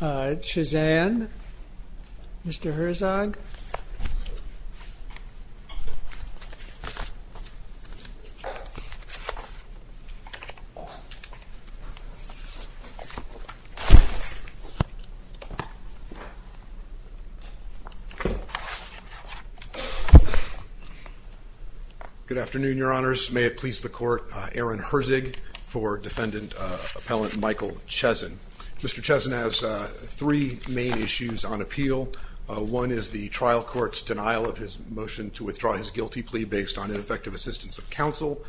Chezan, Mr. Herzog Good afternoon, your honors may it please the court Aaron Herzig for defendant appellant Michael Chezan Mr. Chezan has three main issues on appeal One is the trial court's denial of his motion to withdraw his guilty plea based on ineffective assistance of counsel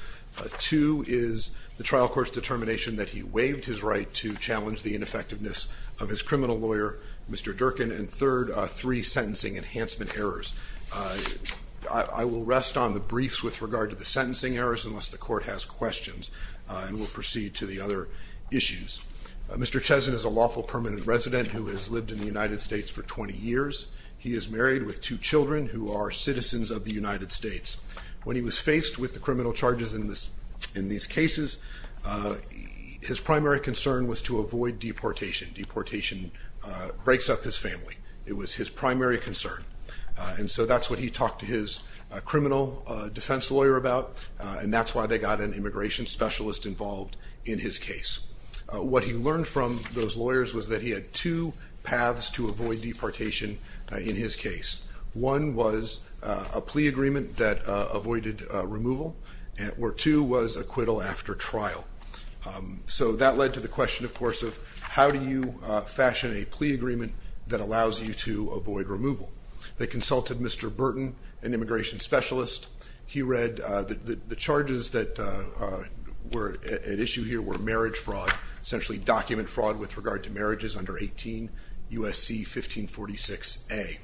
Two is the trial court's determination that he waived his right to challenge the ineffectiveness of his criminal lawyer. Mr Durkin and third three sentencing enhancement errors I will rest on the briefs with regard to the sentencing errors unless the court has questions and we'll proceed to the other Issues. Mr. Chezan is a lawful permanent resident who has lived in the United States for 20 years He is married with two children who are citizens of the United States when he was faced with the criminal charges in this in these cases His primary concern was to avoid deportation. Deportation Breaks up his family. It was his primary concern and so that's what he talked to his Criminal defense lawyer about and that's why they got an immigration specialist involved in his case What he learned from those lawyers was that he had two paths to avoid deportation in his case One was a plea agreement that avoided removal and or two was acquittal after trial So that led to the question, of course of how do you fashion a plea agreement that allows you to avoid removal? They consulted. Mr. Burton an immigration specialist. He read that the charges that Were at issue here were marriage fraud essentially document fraud with regard to marriages under 18 USC 1546 a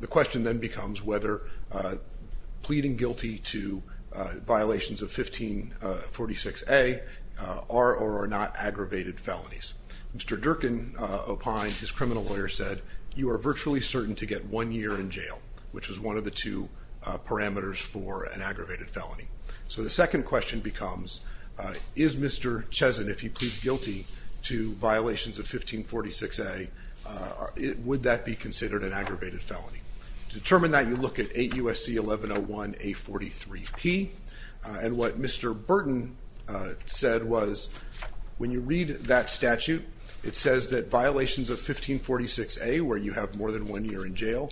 The question then becomes whether pleading guilty to violations of 1546 a Are or are not aggravated felonies. Mr. Durkin opined his criminal lawyer said you are virtually certain to get one year in jail Which was one of the two Parameters for an aggravated felony. So the second question becomes Is mr. Chesson if he pleads guilty to violations of 1546 a Would that be considered an aggravated felony to determine that you look at 8 USC 1101 a 43 P and what mr. Burton? Said was when you read that statute It says that violations of 1546 a where you have more than one year in jail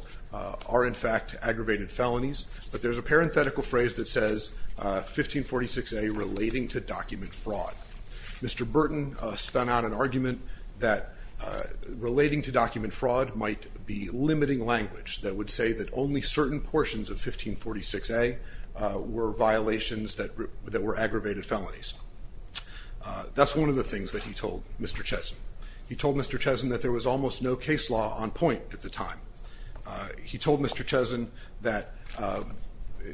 are in fact aggravated felonies But there's a parenthetical phrase that says 1546 a relating to document fraud. Mr. Burton spun out an argument that Relating to document fraud might be limiting language that would say that only certain portions of 1546 a Were violations that that were aggravated felonies That's one of the things that he told mr. Chesson. He told mr. Chesson that there was almost no case law on point at the time He told mr. Chesson that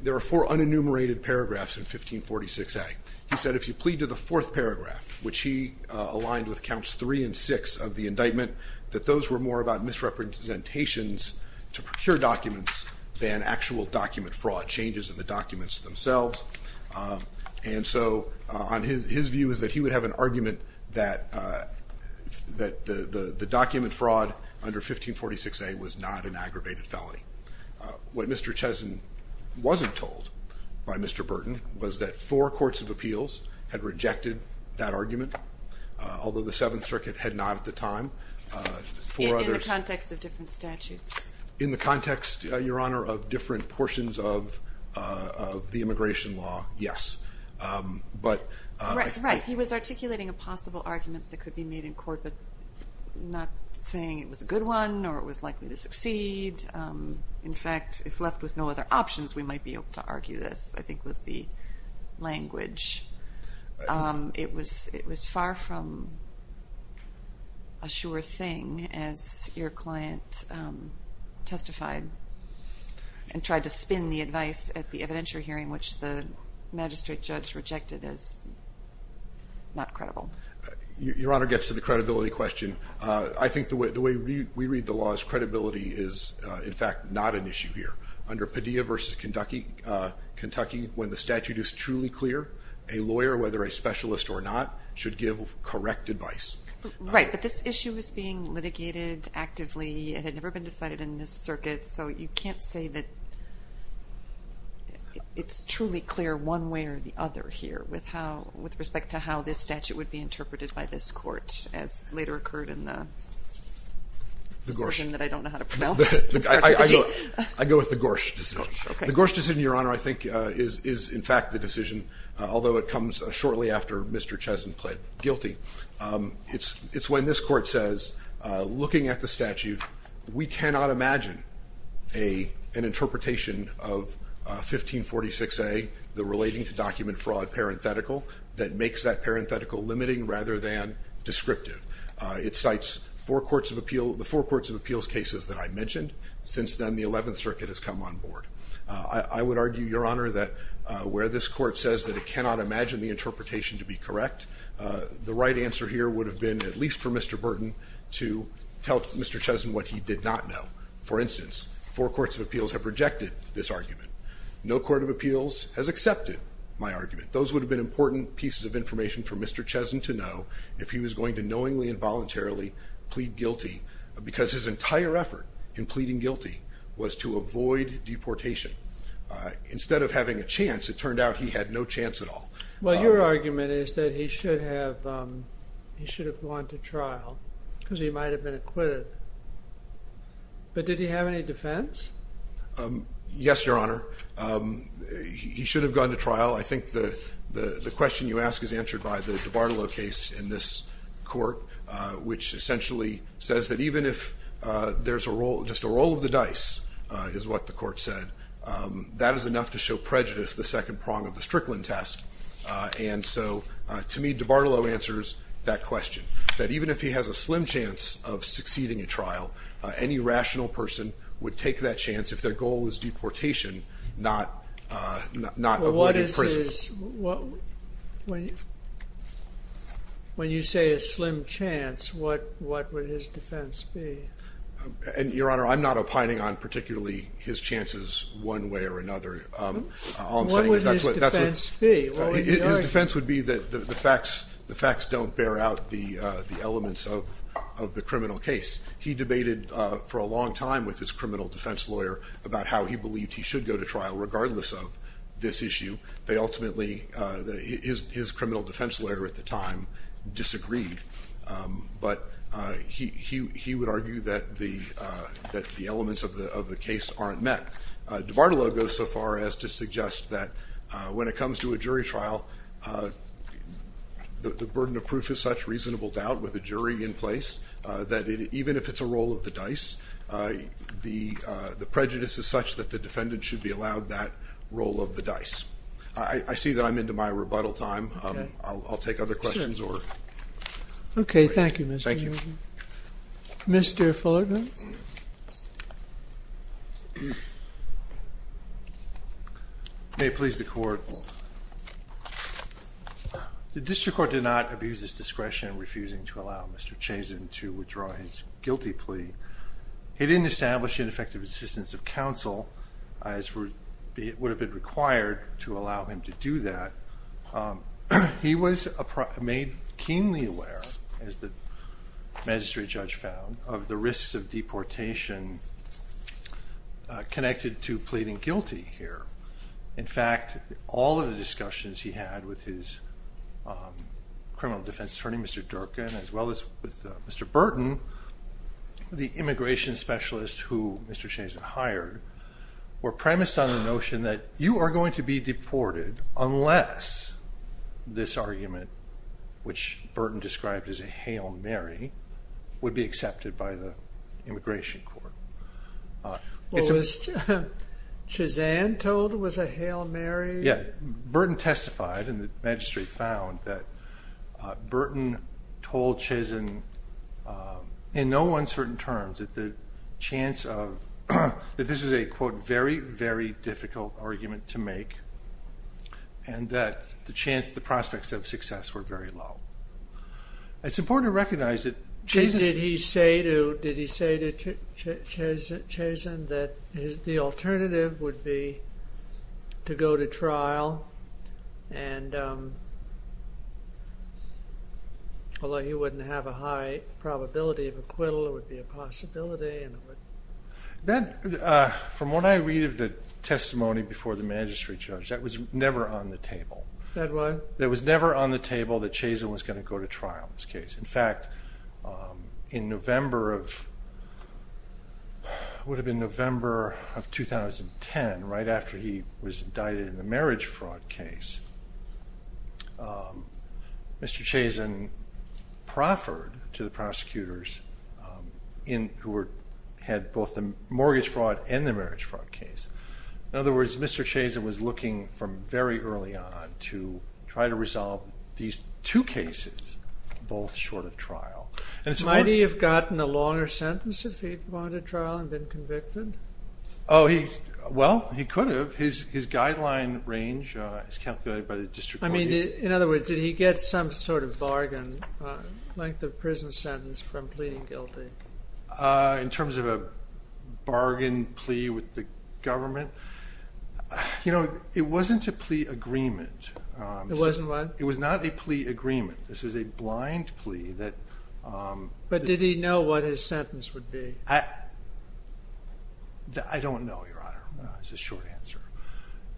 There are four unenumerated paragraphs in 1546 a he said if you plead to the fourth paragraph Which he aligned with counts three and six of the indictment that those were more about Misrepresentations to procure documents than actual document fraud changes in the documents themselves and so on his view is that he would have an argument that That the the document fraud under 1546 a was not an aggravated felony What mr. Chesson Wasn't told by mr. Burton was that four courts of appeals had rejected that argument Although the Seventh Circuit had not at the time for other context of different statutes in the context your honor of different portions of the immigration law, yes but He was articulating a possible argument that could be made in court, but not saying it was a good one or it was likely to succeed In fact if left with no other options, we might be able to argue this I think was the language it was it was far from a Sure thing as your client testified and tried to spin the advice at the evidentiary hearing which the magistrate judge rejected as Not credible your honor gets to the credibility question I think the way the way we read the law is credibility is in fact not an issue here under Padilla versus Kentucky Kentucky when the statute is truly clear a lawyer whether a specialist or not should give correct advice Right, but this issue is being litigated Actively it had never been decided in this circuit, so you can't say that It's truly clear one way or the other here with how with respect to how this statute would be interpreted by this court as later occurred in the I'd go with the Gorsh The Gorsh decision your honor. I think is is in fact the decision although it comes shortly after mr. Chesson pled guilty It's it's when this court says looking at the statute we cannot imagine a an interpretation of 1546 a the relating to document fraud parenthetical that makes that parenthetical limiting rather than Descriptive it cites four courts of appeal the four courts of appeals cases that I mentioned since then the 11th circuit has come on board I would argue your honor that where this court says that it cannot imagine the interpretation to be correct The right answer here would have been at least for mr. Burton to tell mr. Chesson what he did not know for instance four courts of appeals have rejected this argument No court of appeals has accepted my argument those would have been important pieces of information for mr. Chesson to know if he was going to knowingly involuntarily plead guilty Because his entire effort in pleading guilty was to avoid deportation Instead of having a chance it turned out he had no chance at all. Well your argument is that he should have He should have gone to trial because he might have been acquitted But did he have any defense Yes, your honor He should have gone to trial I think the question you ask is answered by the debartalo case in this court, which essentially says that even if There's a role just a roll of the dice is what the court said That is enough to show prejudice the second prong of the Strickland test And so to me debartalo answers that question that even if he has a slim chance of succeeding a trial Any rational person would take that chance if their goal is deportation not not When you say a slim chance what what would his defense be And your honor, I'm not opining on particularly his chances one way or another That's what His defense would be that the facts the facts don't bear out the the elements of of the criminal case He debated for a long time with his criminal defense lawyer about how he believed He should go to trial regardless of this issue. They ultimately His criminal defense lawyer at the time disagreed but he he would argue that the Elements of the of the case aren't met debartalo goes so far as to suggest that when it comes to a jury trial The burden of proof is such reasonable doubt with a jury in place that even if it's a roll of the dice The the prejudice is such that the defendant should be allowed that role of the dice. I See that I'm into my rebuttal time. I'll take other questions or Okay. Thank you. Thank you Mr. Fullerton May please the court The district court did not abuse this discretion refusing to allow mr. Chasen to withdraw his guilty plea He didn't establish an effective assistance of counsel as for it would have been required to allow him to do that he was a made keenly aware as the Magistrate judge found of the risks of deportation Connected to pleading guilty here. In fact all of the discussions he had with his Criminal defense attorney, mr. Durkan as well as with mr. Burton The immigration specialist who mr. Chasen hired Were premised on the notion that you are going to be deported unless this argument Which Burton described as a Hail Mary would be accepted by the immigration court it's a Chasen told was a Hail Mary. Yeah Burton testified and the magistrate found that Burton told Chasen in no uncertain terms at the chance of that this is a quote very very difficult argument to make and The chance the prospects of success were very low It's important to recognize it. Did he say to Chasen that the alternative would be to go to trial and Although he wouldn't have a high probability of acquittal it would be a possibility Then From what I read of the testimony before the magistrate judge that was never on the table That was never on the table that Chasen was going to go to trial in this case. In fact in November of Would have been November of 2010 right after he was indicted in the marriage fraud case proffered to the prosecutors In who were had both the mortgage fraud and the marriage fraud case in other words, mr Chasen was looking from very early on to try to resolve these two cases Both short of trial and so I do you've gotten a longer sentence if he'd wanted trial and been convicted Oh, he well, he could have his his guideline range is calculated by the district I mean in other words did he get some sort of bargain? Length of prison sentence from pleading guilty in terms of a bargain plea with the government You know, it wasn't a plea agreement. It wasn't what it was not a plea agreement. This was a blind plea that But did he know what his sentence would be? I That I don't know your honor it's a short answer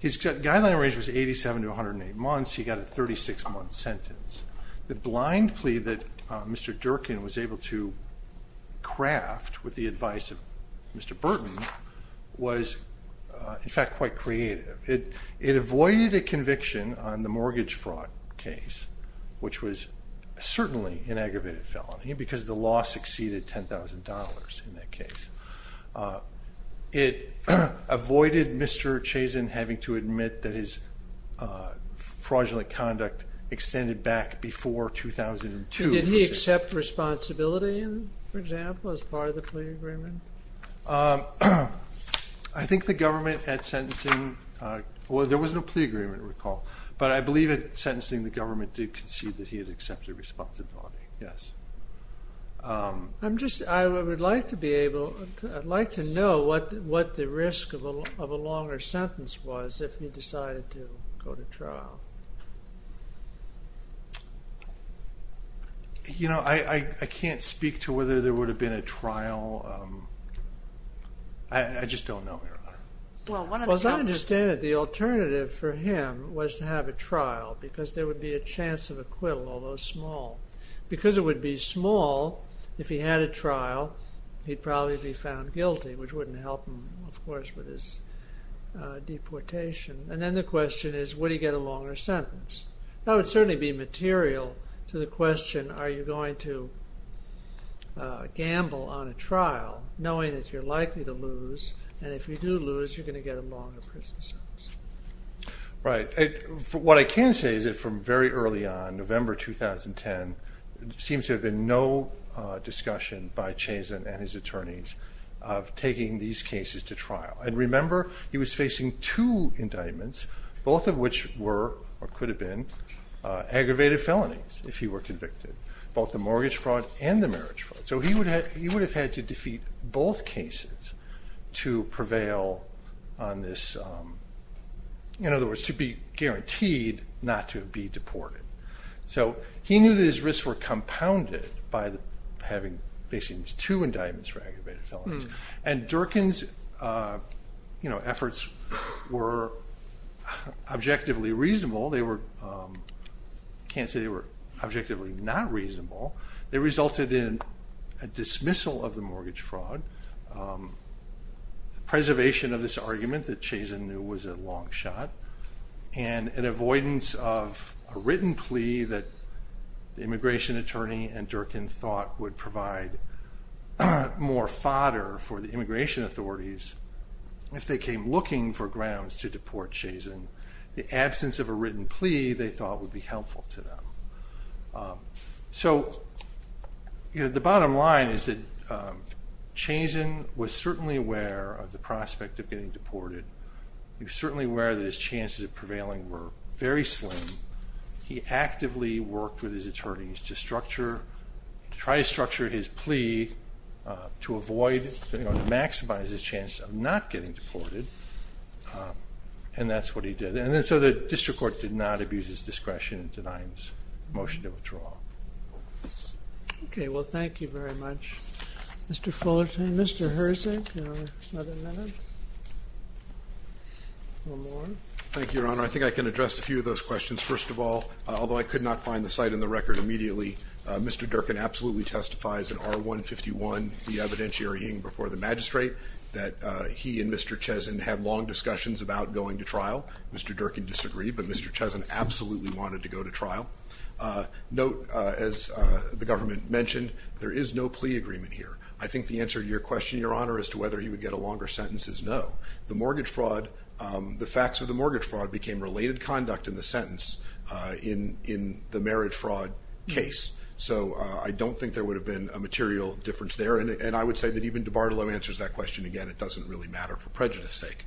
He's got guideline range was 87 to 108 months he got a 36 month sentence the blind plea that mr. Durkin was able to Craft with the advice of mr. Burton was In fact quite creative it it avoided a conviction on the mortgage fraud case Which was certainly an aggravated felony because the law succeeded $10,000 in that case it Avoided mr. Chazen having to admit that his Fraudulent conduct extended back before 2002. Did he accept responsibility? For example as part of the plea agreement I Think the government had sentencing Well, there was no plea agreement recall, but I believe it sentencing the government did concede that he had accepted responsibility. Yes I'm just I would like to be able I'd like to know what what the risk of a longer sentence was if he decided to go to trial You know, I I can't speak to whether there would have been a trial I Just don't know Well, what does I understand it? The alternative for him was to have a trial because there would be a chance of acquittal although small Because it would be small if he had a trial he'd probably be found guilty which wouldn't help him of course with his Deportation and then the question is what do you get a longer sentence? That would certainly be material to the question. Are you going to? Gamble on a trial knowing that you're likely to lose and if you do lose you're going to get a longer prison sentence Right, what I can say is it from very early on November 2010 Seems to have been no discussion by Chazen and his attorneys of Taking these cases to trial and remember he was facing two indictments both of which were or could have been Aggravated felonies if he were convicted both the mortgage fraud and the marriage fraud So he would have he would have had to defeat both cases to prevail on this In other words to be guaranteed not to be deported So he knew that his risks were compounded by having facing two indictments for aggravated felonies and Durkin's You know efforts were Objectively reasonable they were Can't say they were objectively not reasonable. They resulted in a dismissal of the mortgage fraud The Preservation of this argument that Chazen knew was a long shot and an avoidance of a written plea that the immigration attorney and Durkin thought would provide more fodder for the immigration authorities If they came looking for grounds to deport Chazen the absence of a written plea they thought would be helpful to them so you know the bottom line is that Chazen was certainly aware of the prospect of getting deported He was certainly aware that his chances of prevailing were very slim He actively worked with his attorneys to structure to try to structure his plea to avoid Maximize his chance of not getting deported And that's what he did and then so the district court did not abuse his discretion in denying this motion to withdraw Okay, well, thank you very much. Mr. Fullerton. Mr. Hersey Thank you, your honor, I think I can address a few of those questions first of all Although I could not find the site in the record immediately. Mr. Durkin absolutely testifies in our 151 the evidentiary in before the magistrate that he and mr. Chazen had long discussions about going to trial. Mr Durkin disagreed, but mr. Chazen absolutely wanted to go to trial Note as the government mentioned there is no plea agreement here I think the answer to your question your honor as to whether he would get a longer sentence is no the mortgage fraud The facts of the mortgage fraud became related conduct in the sentence in in the marriage fraud case So I don't think there would have been a material difference there and I would say that even de Bartolo answers that question again It doesn't really matter for prejudice sake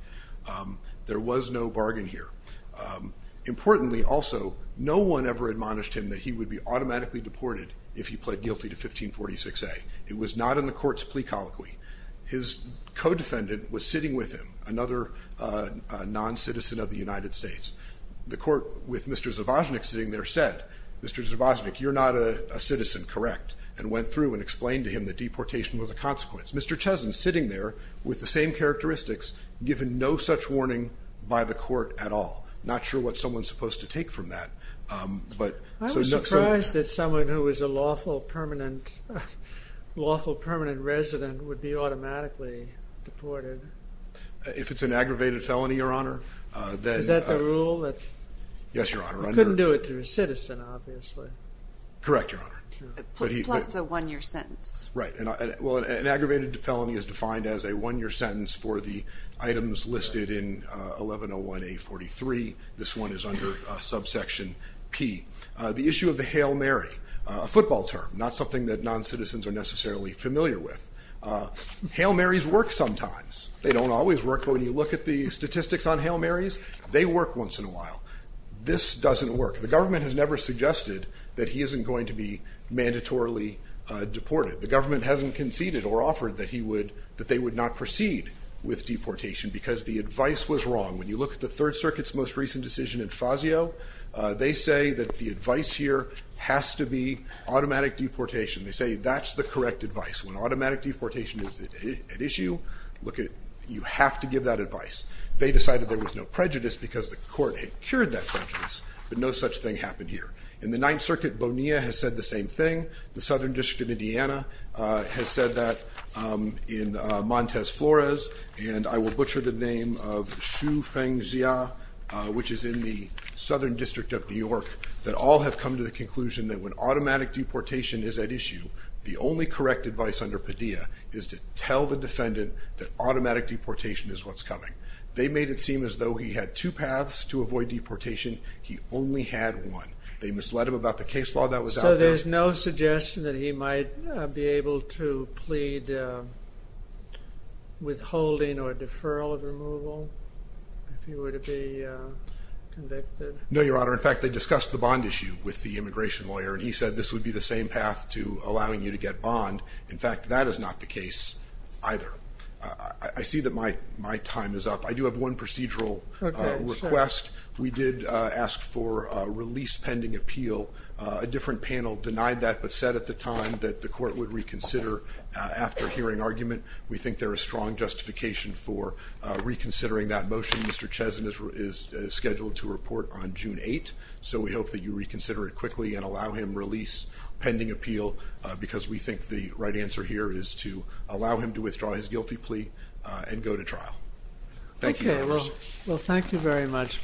There was no bargain here Importantly also no one ever admonished him that he would be automatically deported if he pled guilty to 1546 a it was not in the court's plea colloquy his Codefendant was sitting with him another Non-citizen of the United States the court with mr. Zabajnik sitting there said mr. Zabajnik You're not a citizen correct and went through and explained to him that deportation was a consequence. Mr Chazen sitting there with the same characteristics given no such warning by the court at all Not sure what someone's supposed to take from that But I was surprised that someone who was a lawful permanent lawful permanent resident would be automatically Deported if it's an aggravated felony your honor that is that the rule that yes your honor I couldn't do it to a citizen obviously Correct your honor Plus the one-year sentence right and well an aggravated felony is defined as a one-year sentence for the items listed in 1101 a 43 this one is under a subsection P The issue of the Hail Mary a football term not something that non-citizens are necessarily familiar with Hail Mary's work sometimes. They don't always work for when you look at the statistics on Hail Mary's they work once in a while This doesn't work. The government has never suggested that he isn't going to be mandatorily Deported the government hasn't conceded or offered that he would that they would not proceed With deportation because the advice was wrong when you look at the Third Circuit's most recent decision in Fazio They say that the advice here has to be automatic deportation They say that's the correct advice when automatic deportation is an issue look at you have to give that advice They decided there was no prejudice because the court had cured that prejudice But no such thing happened here in the Ninth Circuit Bonilla has said the same thing the Southern District of Indiana Has said that In Montez Flores, and I will butcher the name of Shu Feng Xia Which is in the Southern District of New York that all have come to the conclusion that when automatic deportation is at issue The only correct advice under Padilla is to tell the defendant that automatic deportation is what's coming They made it seem as though he had two paths to avoid deportation. He only had one They misled him about the case law that was so there's no suggestion that he might be able to plead Withholding or deferral of removal No your honor in fact they discussed the bond issue with the immigration lawyer And he said this would be the same path to allowing you to get bond in fact that is not the case either I see that my my time is up. I do have one procedural Request we did ask for a release pending appeal a different panel denied that but said at the time that the court would reconsider After hearing argument we think they're a strong justification for Reconsidering that motion mr.. Cheson is Scheduled to report on June 8 so we hope that you reconsider it quickly and allow him release Pending appeal because we think the right answer here is to allow him to withdraw his guilty plea and go to trial Thank you, well, thank you very much